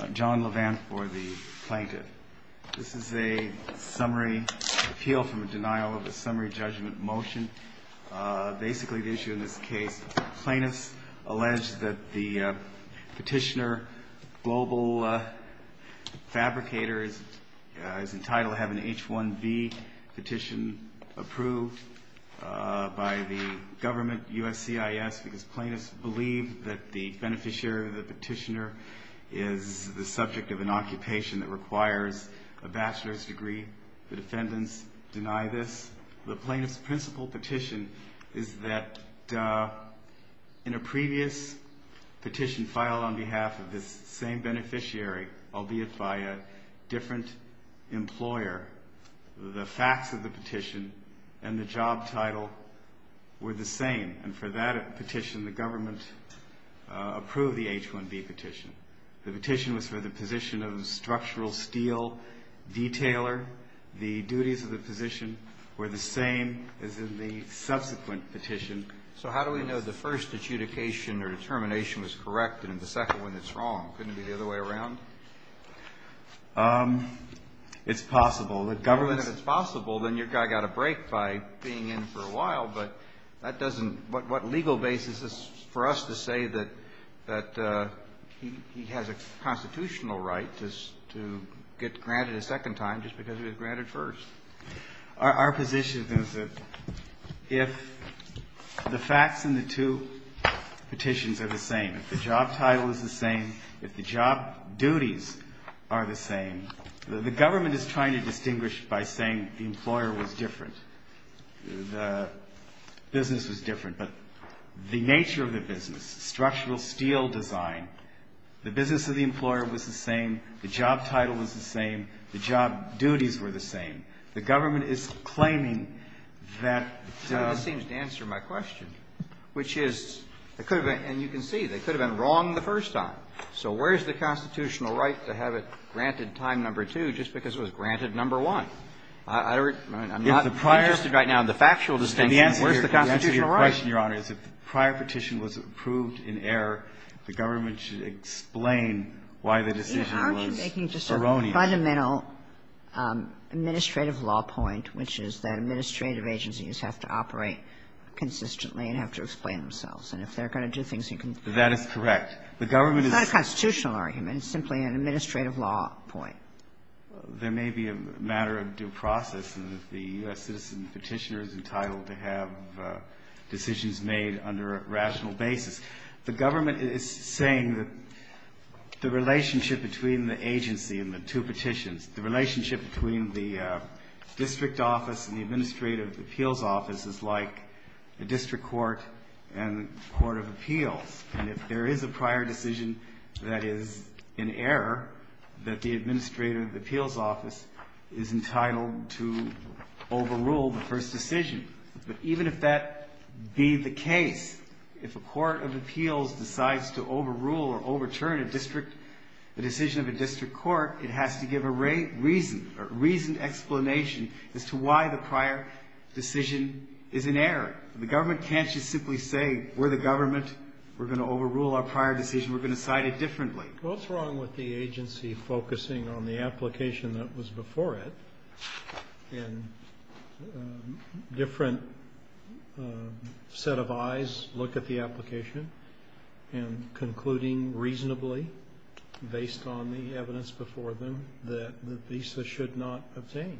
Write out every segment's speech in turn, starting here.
I'm John Levant for the plaintiff. This is a summary appeal from a denial of a summary judgment motion. Basically the issue in this case, plaintiffs allege that the petitioner, Global Fabricators, is entitled to have an H-1B petition approved by the government, USCIS, because plaintiffs believe that the beneficiary of the petitioner is the subject of an occupation that requires a bachelor's degree. The defendants deny this. The plaintiff's principal petition is that in a previous petition filed on behalf of this same beneficiary, albeit by a different employer, the facts of the petition and the job title were the same. And for that petition, the government approved the H-1B petition. The petition was for the position of structural steel detailer. The duties of the position were the same as in the subsequent petition. So how do we know the first adjudication or determination was correct and the second one is wrong? Couldn't it be the other way around? It's possible. If it's possible, then your guy got a break by being in for a while. But that doesn't – what legal basis is for us to say that he has a constitutional right to get granted a second time just because he was granted first? Our position is that if the facts in the two petitions are the same, if the job title is the same, if the job duties are the same, the government is trying to distinguish by saying the employer was different, the business was different. But the nature of the business, structural steel design, the business of the employer was the same, the job title was the same, the job duties were the same. The government is claiming that the – That seems to answer my question, which is it could have been – and you can see, they could have been wrong the first time. So where is the constitutional right to have it granted time number two just because it was granted number one? I'm not interested right now in the factual distinction. The answer to your question, Your Honor, is if the prior petition was approved in error, the government should explain why the decision was wrong. Kagan, aren't you making just a fundamental administrative law point, which is that administrative agencies have to operate consistently and have to explain themselves? And if they're going to do things in – That is correct. The government is – It's not a constitutional argument. It's simply an administrative law point. There may be a matter of due process in that the U.S. citizen petitioner is entitled to have decisions made under a rational basis. The government is saying that the relationship between the agency and the two petitions, the relationship between the district office and the administrative appeals office is like a district court and a court of appeals. And if there is a prior decision that is in error, that the administrative appeals office is entitled to overrule the first decision. But even if that be the case, if a court of appeals decides to overrule or overturn a district – the decision of a district court, it has to give a reason, a reasoned explanation as to why the prior decision is in error. The government can't just simply say, we're the government, we're going to overrule our prior decision, we're going to cite it differently. What's wrong with the agency focusing on the application that was before it and different set of eyes look at the application and concluding reasonably based on the evidence before them that the visa should not obtain?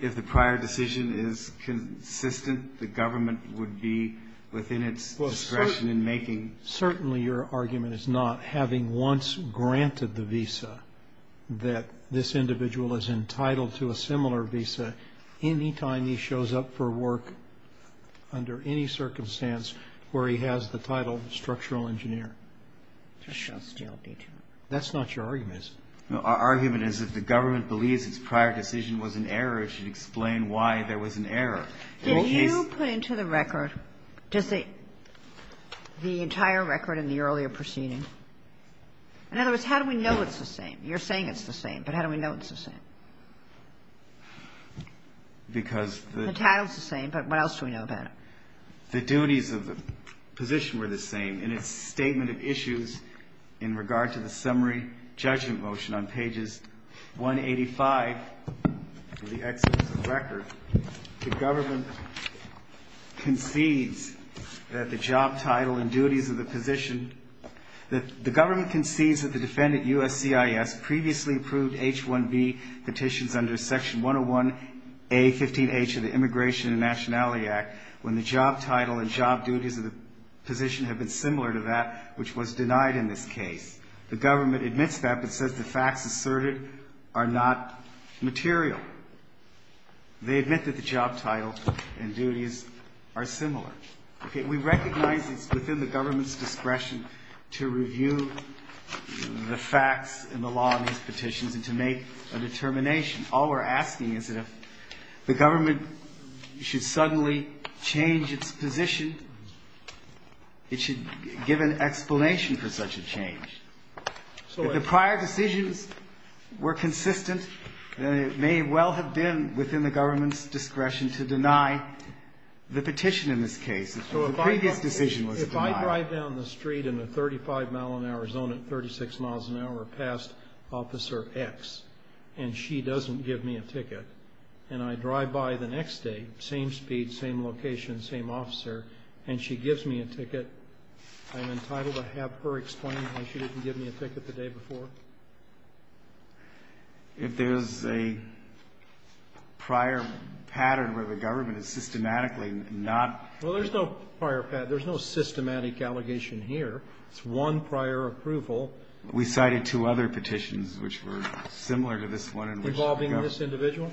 If the prior decision is consistent, the government would be within its discretion in making – Roberts, certainly your argument is not having once granted the visa that this individual is entitled to a similar visa any time he shows up for work under any circumstance where he has the title structural engineer. That's not your argument. No, our argument is if the government believes its prior decision was in error, it should explain why there was an error. Did you put into the record the entire record in the earlier proceeding? In other words, how do we know it's the same? You're saying it's the same, but how do we know it's the same? Because the title is the same, but what else do we know about it? The duties of the position were the same. in its statement of issues in regard to the summary judgment motion on pages 185 of the exodus of record, the government concedes that the job title and duties of the position – The government concedes that the defendant, USCIS, previously approved H-1B petitions under Section 101A-15H of the Immigration and Nationality Act when the job title and job duties of the position have been similar to that which was denied in this case. The government admits that but says the facts asserted are not material. They admit that the job title and duties are similar. We recognize it's within the government's discretion to review the facts and the law of these petitions and to make a determination. All we're asking is that if the government should suddenly change its position, it should give an explanation for such a change. If the prior decisions were consistent, it may well have been within the government's discretion to deny the petition in this case. If the previous decision was denied. If I drive down the street in a 35-mile-an-hour zone at 36 miles an hour past Officer X and she doesn't give me a ticket and I drive by the next day, same speed, same location, same officer, and she gives me a ticket, I'm entitled to have her explain why she didn't give me a ticket the day before? If there's a prior pattern where the government is systematically not. Well, there's no prior pattern. There's no systematic allegation here. It's one prior approval. We cited two other petitions which were similar to this one in which the government. Involving this individual?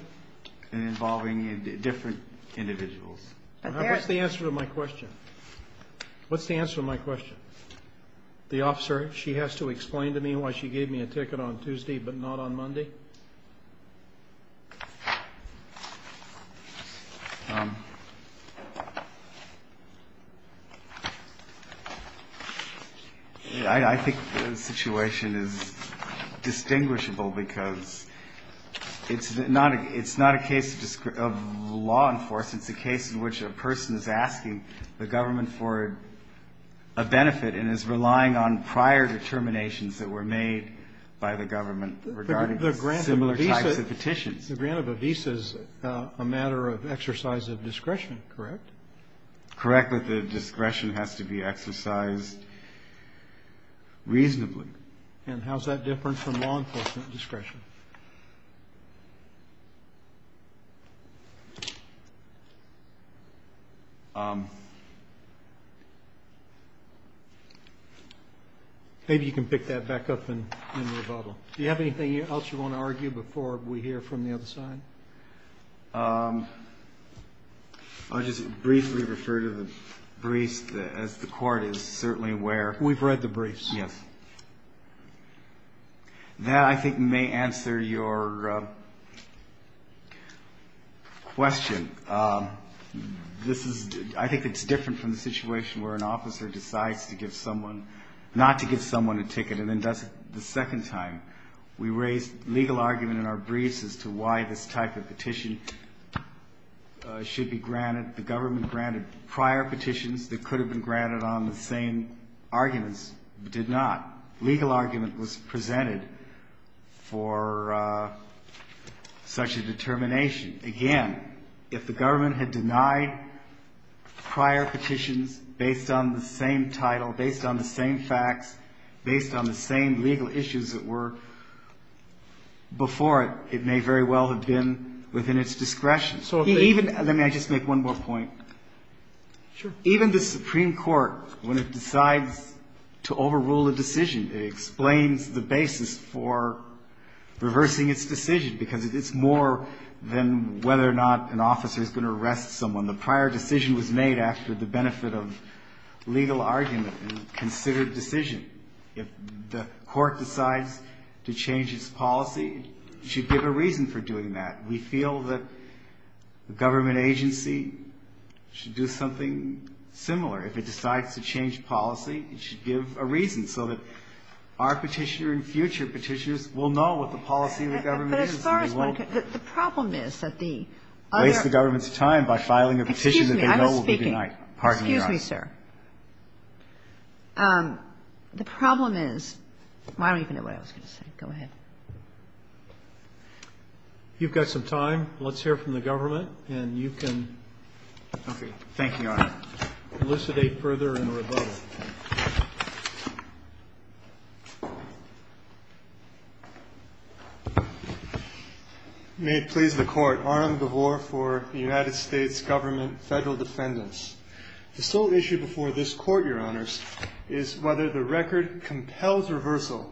Involving different individuals. What's the answer to my question? What's the answer to my question? The officer, she has to explain to me why she gave me a ticket on Tuesday but not on Monday? I think the situation is distinguishable because it's not a case of law enforcement. It's a case in which a person is asking the government for a benefit and is relying on prior determinations that were made by the government regarding similar types of petitions. The grant of a visa is a matter of exercise of discretion, correct? Correct, but the discretion has to be exercised reasonably. And how's that different from law enforcement discretion? Maybe you can pick that back up in the rebuttal. Do you have anything else you want to argue before we hear from the other side? I'll just briefly refer to the briefs as the court is certainly aware. We've read the briefs. Yes. That, I think, may answer your question. This is, I think it's different from the situation where an officer decides to give someone, not to give someone a ticket and then does it the second time. We raised legal argument in our briefs as to why this type of petition should be granted. The government granted prior petitions that could have been granted on the same arguments, but did not. Legal argument was presented for such a determination. Again, if the government had denied prior petitions based on the same title, based on the same facts, based on the same legal issues that were before it, it may very well have been within its discretion. Let me just make one more point. Even the Supreme Court, when it decides to overrule a decision, it explains the basis for reversing its decision, because it's more than whether or not an officer is going to arrest someone. The prior decision was made after the benefit of legal argument and considered decision. If the Court decides to change its policy, it should give a reason for doing that. We feel that the government agency should do something similar. If it decides to change policy, it should give a reason so that our Petitioner and future Petitioners will know what the policy of the government is. And they won't ---- Kagan. But as far as one can ---- The problem is that the other ---- Lace the government's time by filing a petition that they know will be denied. Excuse me. I'm speaking. Pardon me, Your Honor. Excuse me, sir. The problem is ---- I don't even know what I was going to say. Go ahead. You've got some time. Let's hear from the government, and you can ---- Thank you, Your Honor. elucidate further in the rebuttal. May it please the Court. Arnold DeVore for the United States Government Federal Defendants. The sole issue before this Court, Your Honors, is whether the record compels reversal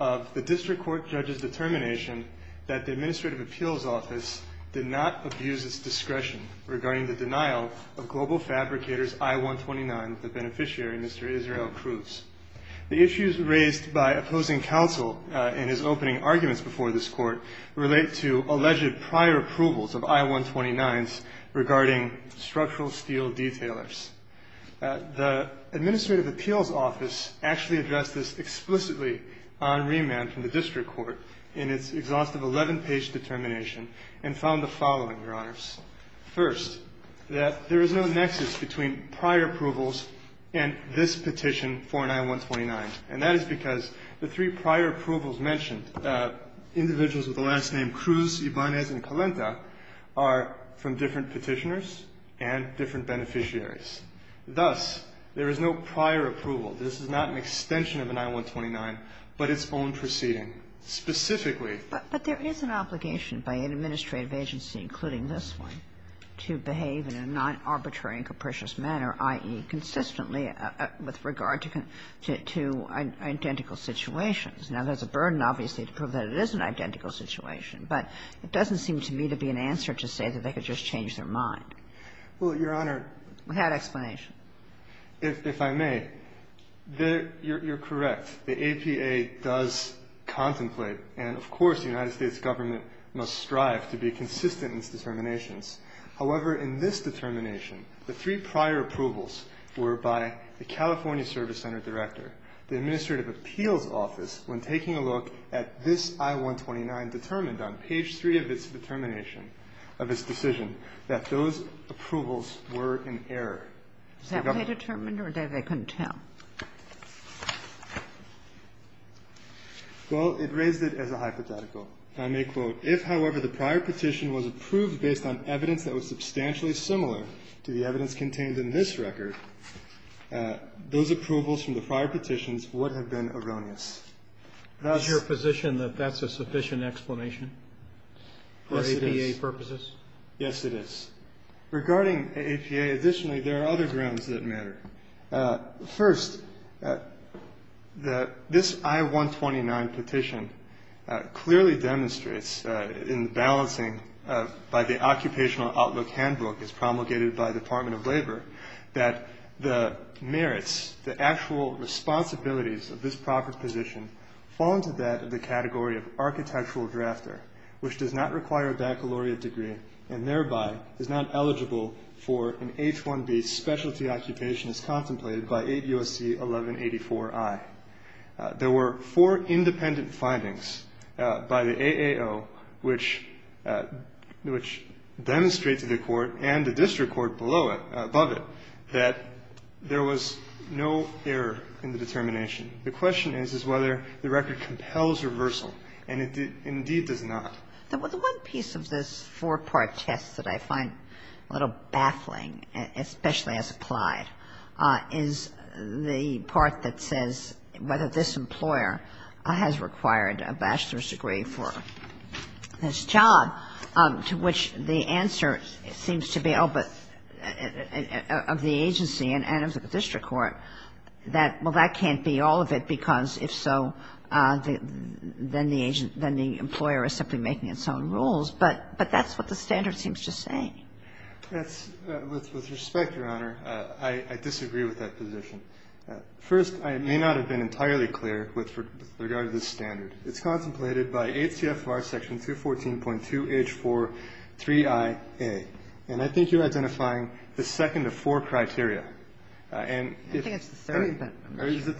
of the District Court judge's determination that the Administrative Appeals Office did not abuse its discretion regarding the denial of Global Fabricators I-129, the beneficiary, Mr. Israel Cruz. The issues raised by opposing counsel in his opening arguments before this Court relate to alleged prior approvals of I-129s regarding structural steel detailers. The Administrative Appeals Office actually addressed this explicitly on remand from the District Court in its exhaustive 11-page determination and found the following, Your Honors. First, that there is no nexus between prior approvals and this petition for an I-129, and that is because the three prior approvals mentioned, individuals with the last name Cruz, Ibanez, and Kalenta, are from different petitioners and different beneficiaries. Thus, there is no prior approval. This is not an extension of an I-129, but its own proceeding. Specifically ---- Kagan. But there is an obligation by an administrative agency, including this one, to behave in a non-arbitrary and capricious manner, i.e., consistently with regard to identical situations. Now, there's a burden, obviously, to prove that it is an identical situation, but it doesn't seem to me to be an answer to say that they could just change their mind. Well, Your Honor ---- Without explanation. If I may, you're correct. The APA does contemplate and, of course, the United States government must strive to be consistent in its determinations. However, in this determination, the three prior approvals were by the California Service Center Director. The Administrative Appeals Office, when taking a look at this I-129, determined on page 3 of its determination, of its decision, that those approvals were in error. Is that why they determined or they couldn't tell? Well, it raised it as a hypothetical. If, however, the prior petition was approved based on evidence that was substantially similar to the evidence contained in this record, those approvals from the prior petitions would have been erroneous. Is your position that that's a sufficient explanation for APA purposes? Yes, it is. Regarding APA, additionally, there are other grounds that matter. First, this I-129 petition clearly demonstrates in the balancing by the Occupational Outlook Handbook, as promulgated by the Department of Labor, that the merits, the actual responsibilities of this proper position fall into that of the category of architectural drafter, which does not require a baccalaureate degree and thereby is not eligible for an H-1B specialty occupation as contemplated by 8 U.S.C. 1184-I. There were four independent findings by the AAO, which demonstrate to the Court and the district court below it, above it, that there was no error in the determination. The question is, is whether the record compels reversal, and it indeed does not. The one piece of this four-part test that I find a little baffling, especially as applied, is the part that says whether this employer has required a bachelor's degree for this job, to which the answer seems to be, oh, but of the agency and of the district court, that, well, that can't be all of it, because if so, then the agent then the employer is simply making its own rules. But that's what the standard seems to say. That's, with respect, Your Honor, I disagree with that position. First, I may not have been entirely clear with regard to this standard. It's contemplated by HCFR Section 214.2H4-3IA. And I think you're identifying the second of four criteria. And if the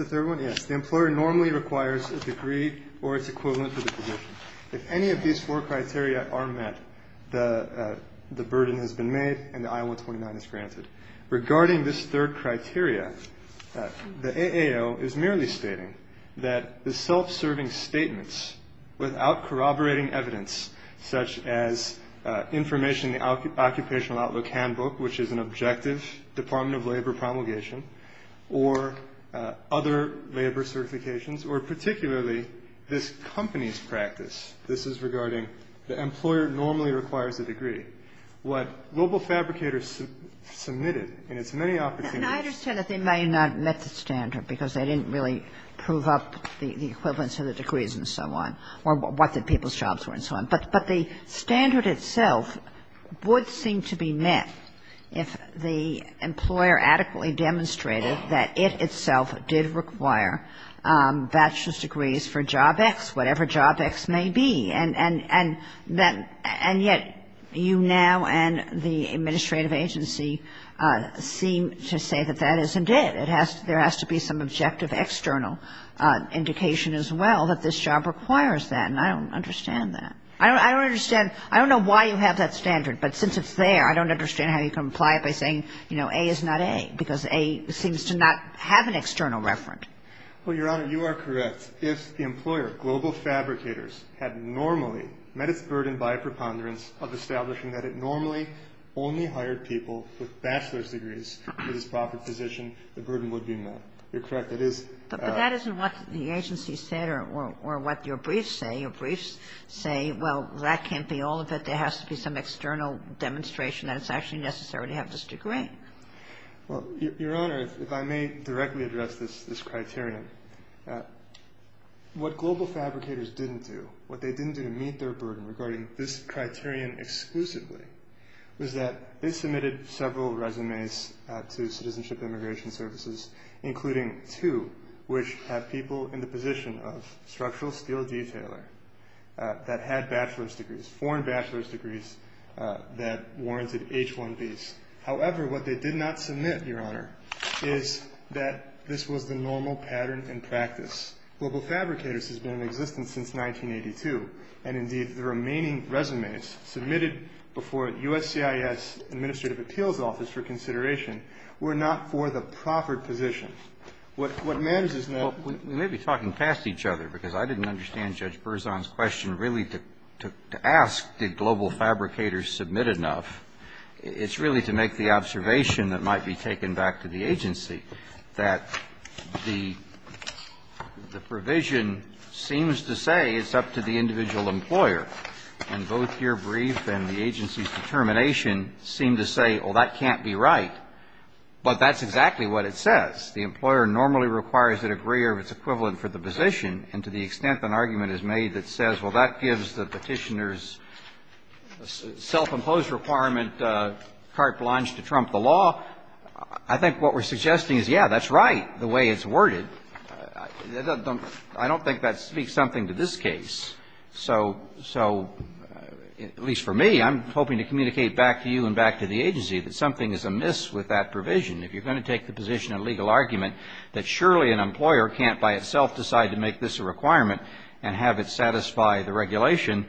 third one, yes, the employer normally requires a degree or its equivalent to the position. If any of these four criteria are met, the burden has been made and the I-129 is granted. Regarding this third criteria, the AAO is merely stating that the self-serving statements without corroborating evidence, such as information in the Occupational Outlook Handbook, which is an objective Department of Labor promulgation, or other labor certifications, or particularly this company's practice. This is regarding the employer normally requires a degree. What Global Fabricators submitted in its many opportunities to the AAO. Kagan. I understand that they may not have met the standard, because they didn't really prove up the equivalence of the degrees and so on, or what the people's jobs were and so on. But the standard itself would seem to be met if the employer adequately demonstrated that it itself did require bachelor's degrees for Job X, whatever Job X may be. And yet you now and the administrative agency seem to say that that isn't it. There has to be some objective external indication as well that this job requires that, and I don't understand that. I don't understand. I don't know why you have that standard, but since it's there, I don't understand how you can apply it by saying, you know, A is not A, because A seems to not have an external reference. Well, Your Honor, you are correct. If the employer, Global Fabricators, had normally met its burden by a preponderance of establishing that it normally only hired people with bachelor's degrees for this profit position, the burden would be met. You're correct. It is. But that isn't what the agency said or what your briefs say. Well, that can't be all of it. There has to be some external demonstration that it's actually necessary to have this degree. Well, Your Honor, if I may directly address this criterion, what Global Fabricators didn't do, what they didn't do to meet their burden regarding this criterion exclusively was that they submitted several resumes to Citizenship and Immigration Services, including two which have people in the position of structural steel detailer that had bachelor's degrees, foreign bachelor's degrees that warranted H-1Bs. However, what they did not submit, Your Honor, is that this was the normal pattern and practice. Global Fabricators has been in existence since 1982, and indeed the remaining resumes submitted before USCIS Administrative Appeals Office for consideration were not for the proffered position. What matters is that we may be talking past each other, because I didn't understand Judge Berzon's question really to ask did Global Fabricators submit enough. It's really to make the observation that might be taken back to the agency, that the provision seems to say it's up to the individual employer. And both your brief and the agency's determination seem to say, oh, that can't be right, but that's exactly what it says. The employer normally requires a degree or its equivalent for the position, and to the extent an argument is made that says, well, that gives the Petitioner's self-imposed requirement carte blanche to trump the law, I think what we're suggesting is, yeah, that's right, the way it's worded. I don't think that speaks something to this case. So at least for me, I'm hoping to communicate back to you and back to the agency that something is amiss with that provision. If you're going to take the position in a legal argument that surely an employer can't by itself decide to make this a requirement and have it satisfy the regulation,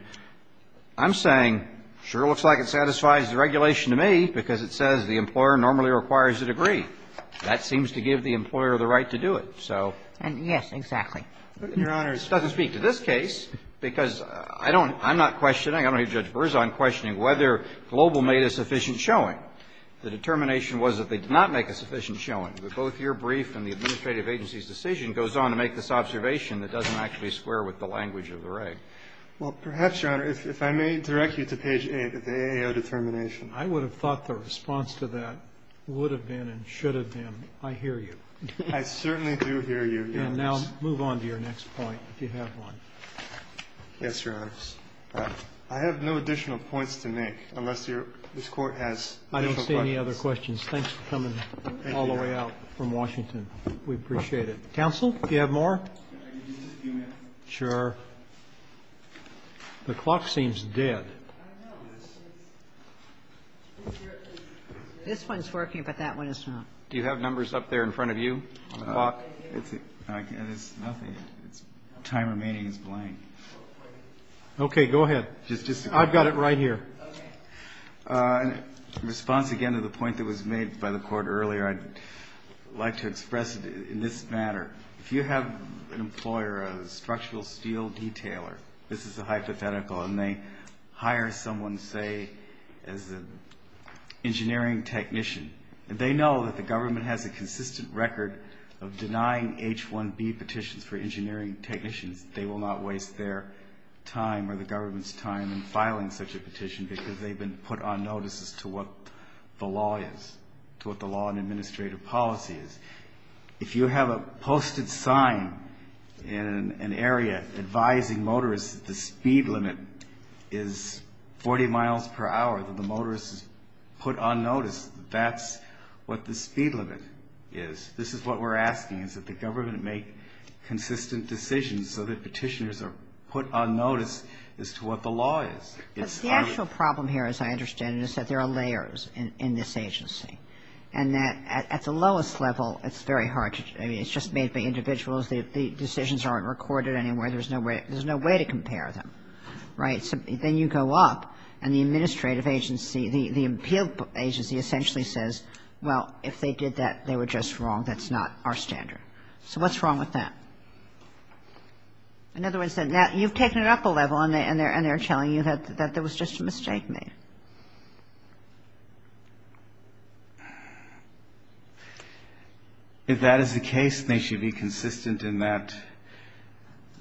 I'm saying sure looks like it satisfies the regulation to me, because it says the employer normally requires a degree. That seems to give the employer the right to do it. So yes, exactly. It doesn't speak to this case, because I don't – I'm not questioning whether Global made a sufficient showing. The determination was that they did not make a sufficient showing. But both your brief and the administrative agency's decision goes on to make this observation that doesn't actually square with the language of the reg. Well, perhaps, Your Honor, if I may direct you to page 8 of the AAO determination. I would have thought the response to that would have been and should have been, I hear you. I certainly do hear you. And now move on to your next point, if you have one. Yes, Your Honor. I have no additional points to make unless this Court has additional questions. I don't see any other questions. Thanks for coming all the way out from Washington. We appreciate it. Counsel, do you have more? Sure. The clock seems dead. This one's working, but that one is not. Do you have numbers up there in front of you on the clock? There's nothing. The time remaining is blank. Okay, go ahead. I've got it right here. In response, again, to the point that was made by the Court earlier, I'd like to express in this matter, if you have an employer, a structural steel detailer, this is a hypothetical, and they hire someone, say, as an engineering technician, and they know that the government has a consistent record of denying H-1B petitions for engineering technicians. They will not waste their time or the government's time in filing such a petition because they've been put on notice as to what the law is, to what the law and administrative policy is. If you have a posted sign in an area advising motorists that the speed limit is 40 miles per hour, that the motorists are put on notice, that's what the speed limit is. This is what we're asking, is that the government make consistent decisions so that petitioners are put on notice as to what the law is. But the actual problem here, as I understand it, is that there are layers in this agency, and that at the lowest level, it's very hard to do. I mean, it's just made by individuals. The decisions aren't recorded anywhere. There's no way to compare them, right? Then you go up, and the administrative agency, the appeal agency essentially says, well, if they did that, they were just wrong. That's not our standard. So what's wrong with that? In other words, you've taken it up a level, and they're telling you that there was just a mistake made. If that is the case, they should be consistent in that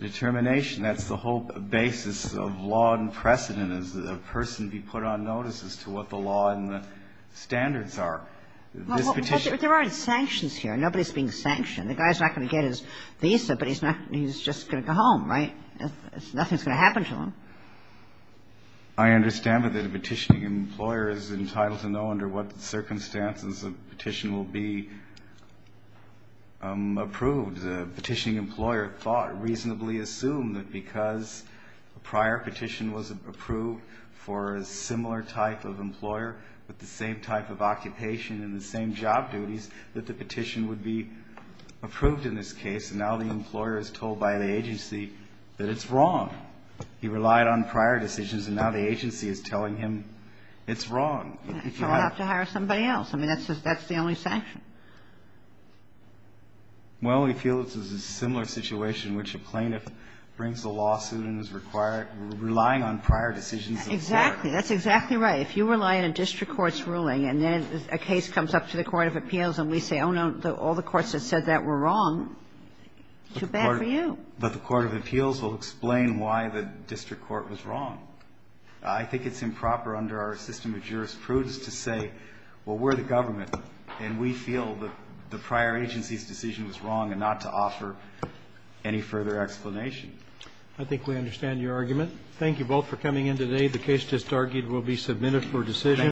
determination. That's the whole basis of law and precedent, is that a person be put on notice as to what the law and the standards are. This petition ---- But there aren't sanctions here. Nobody's being sanctioned. The guy's not going to get his visa, but he's not going to go home, right? Nothing's going to happen to him. I understand that the petitioning employer is entitled to know under what circumstances the petition will be approved. The petitioning employer thought, reasonably assumed, that because a prior petition was approved for a similar type of employer with the same type of occupation and the same job duties, that the petition would be approved in this case. And now the employer is told by the agency that it's wrong. He relied on prior decisions, and now the agency is telling him it's wrong. He'll have to hire somebody else. I mean, that's the only sanction. Well, we feel it's a similar situation in which a plaintiff brings a lawsuit and is required to rely on prior decisions. Exactly. That's exactly right. If you rely on a district court's ruling and then a case comes up to the court of appeals and we say, oh, no, all the courts that said that were wrong, too bad for you. But the court of appeals will explain why the district court was wrong. I think it's improper under our system of jurisprudence to say, well, we're the government and we feel that the prior agency's decision was wrong and not to offer any further explanation. I think we understand your argument. Thank you both for coming in today. The case just argued will be submitted for decision.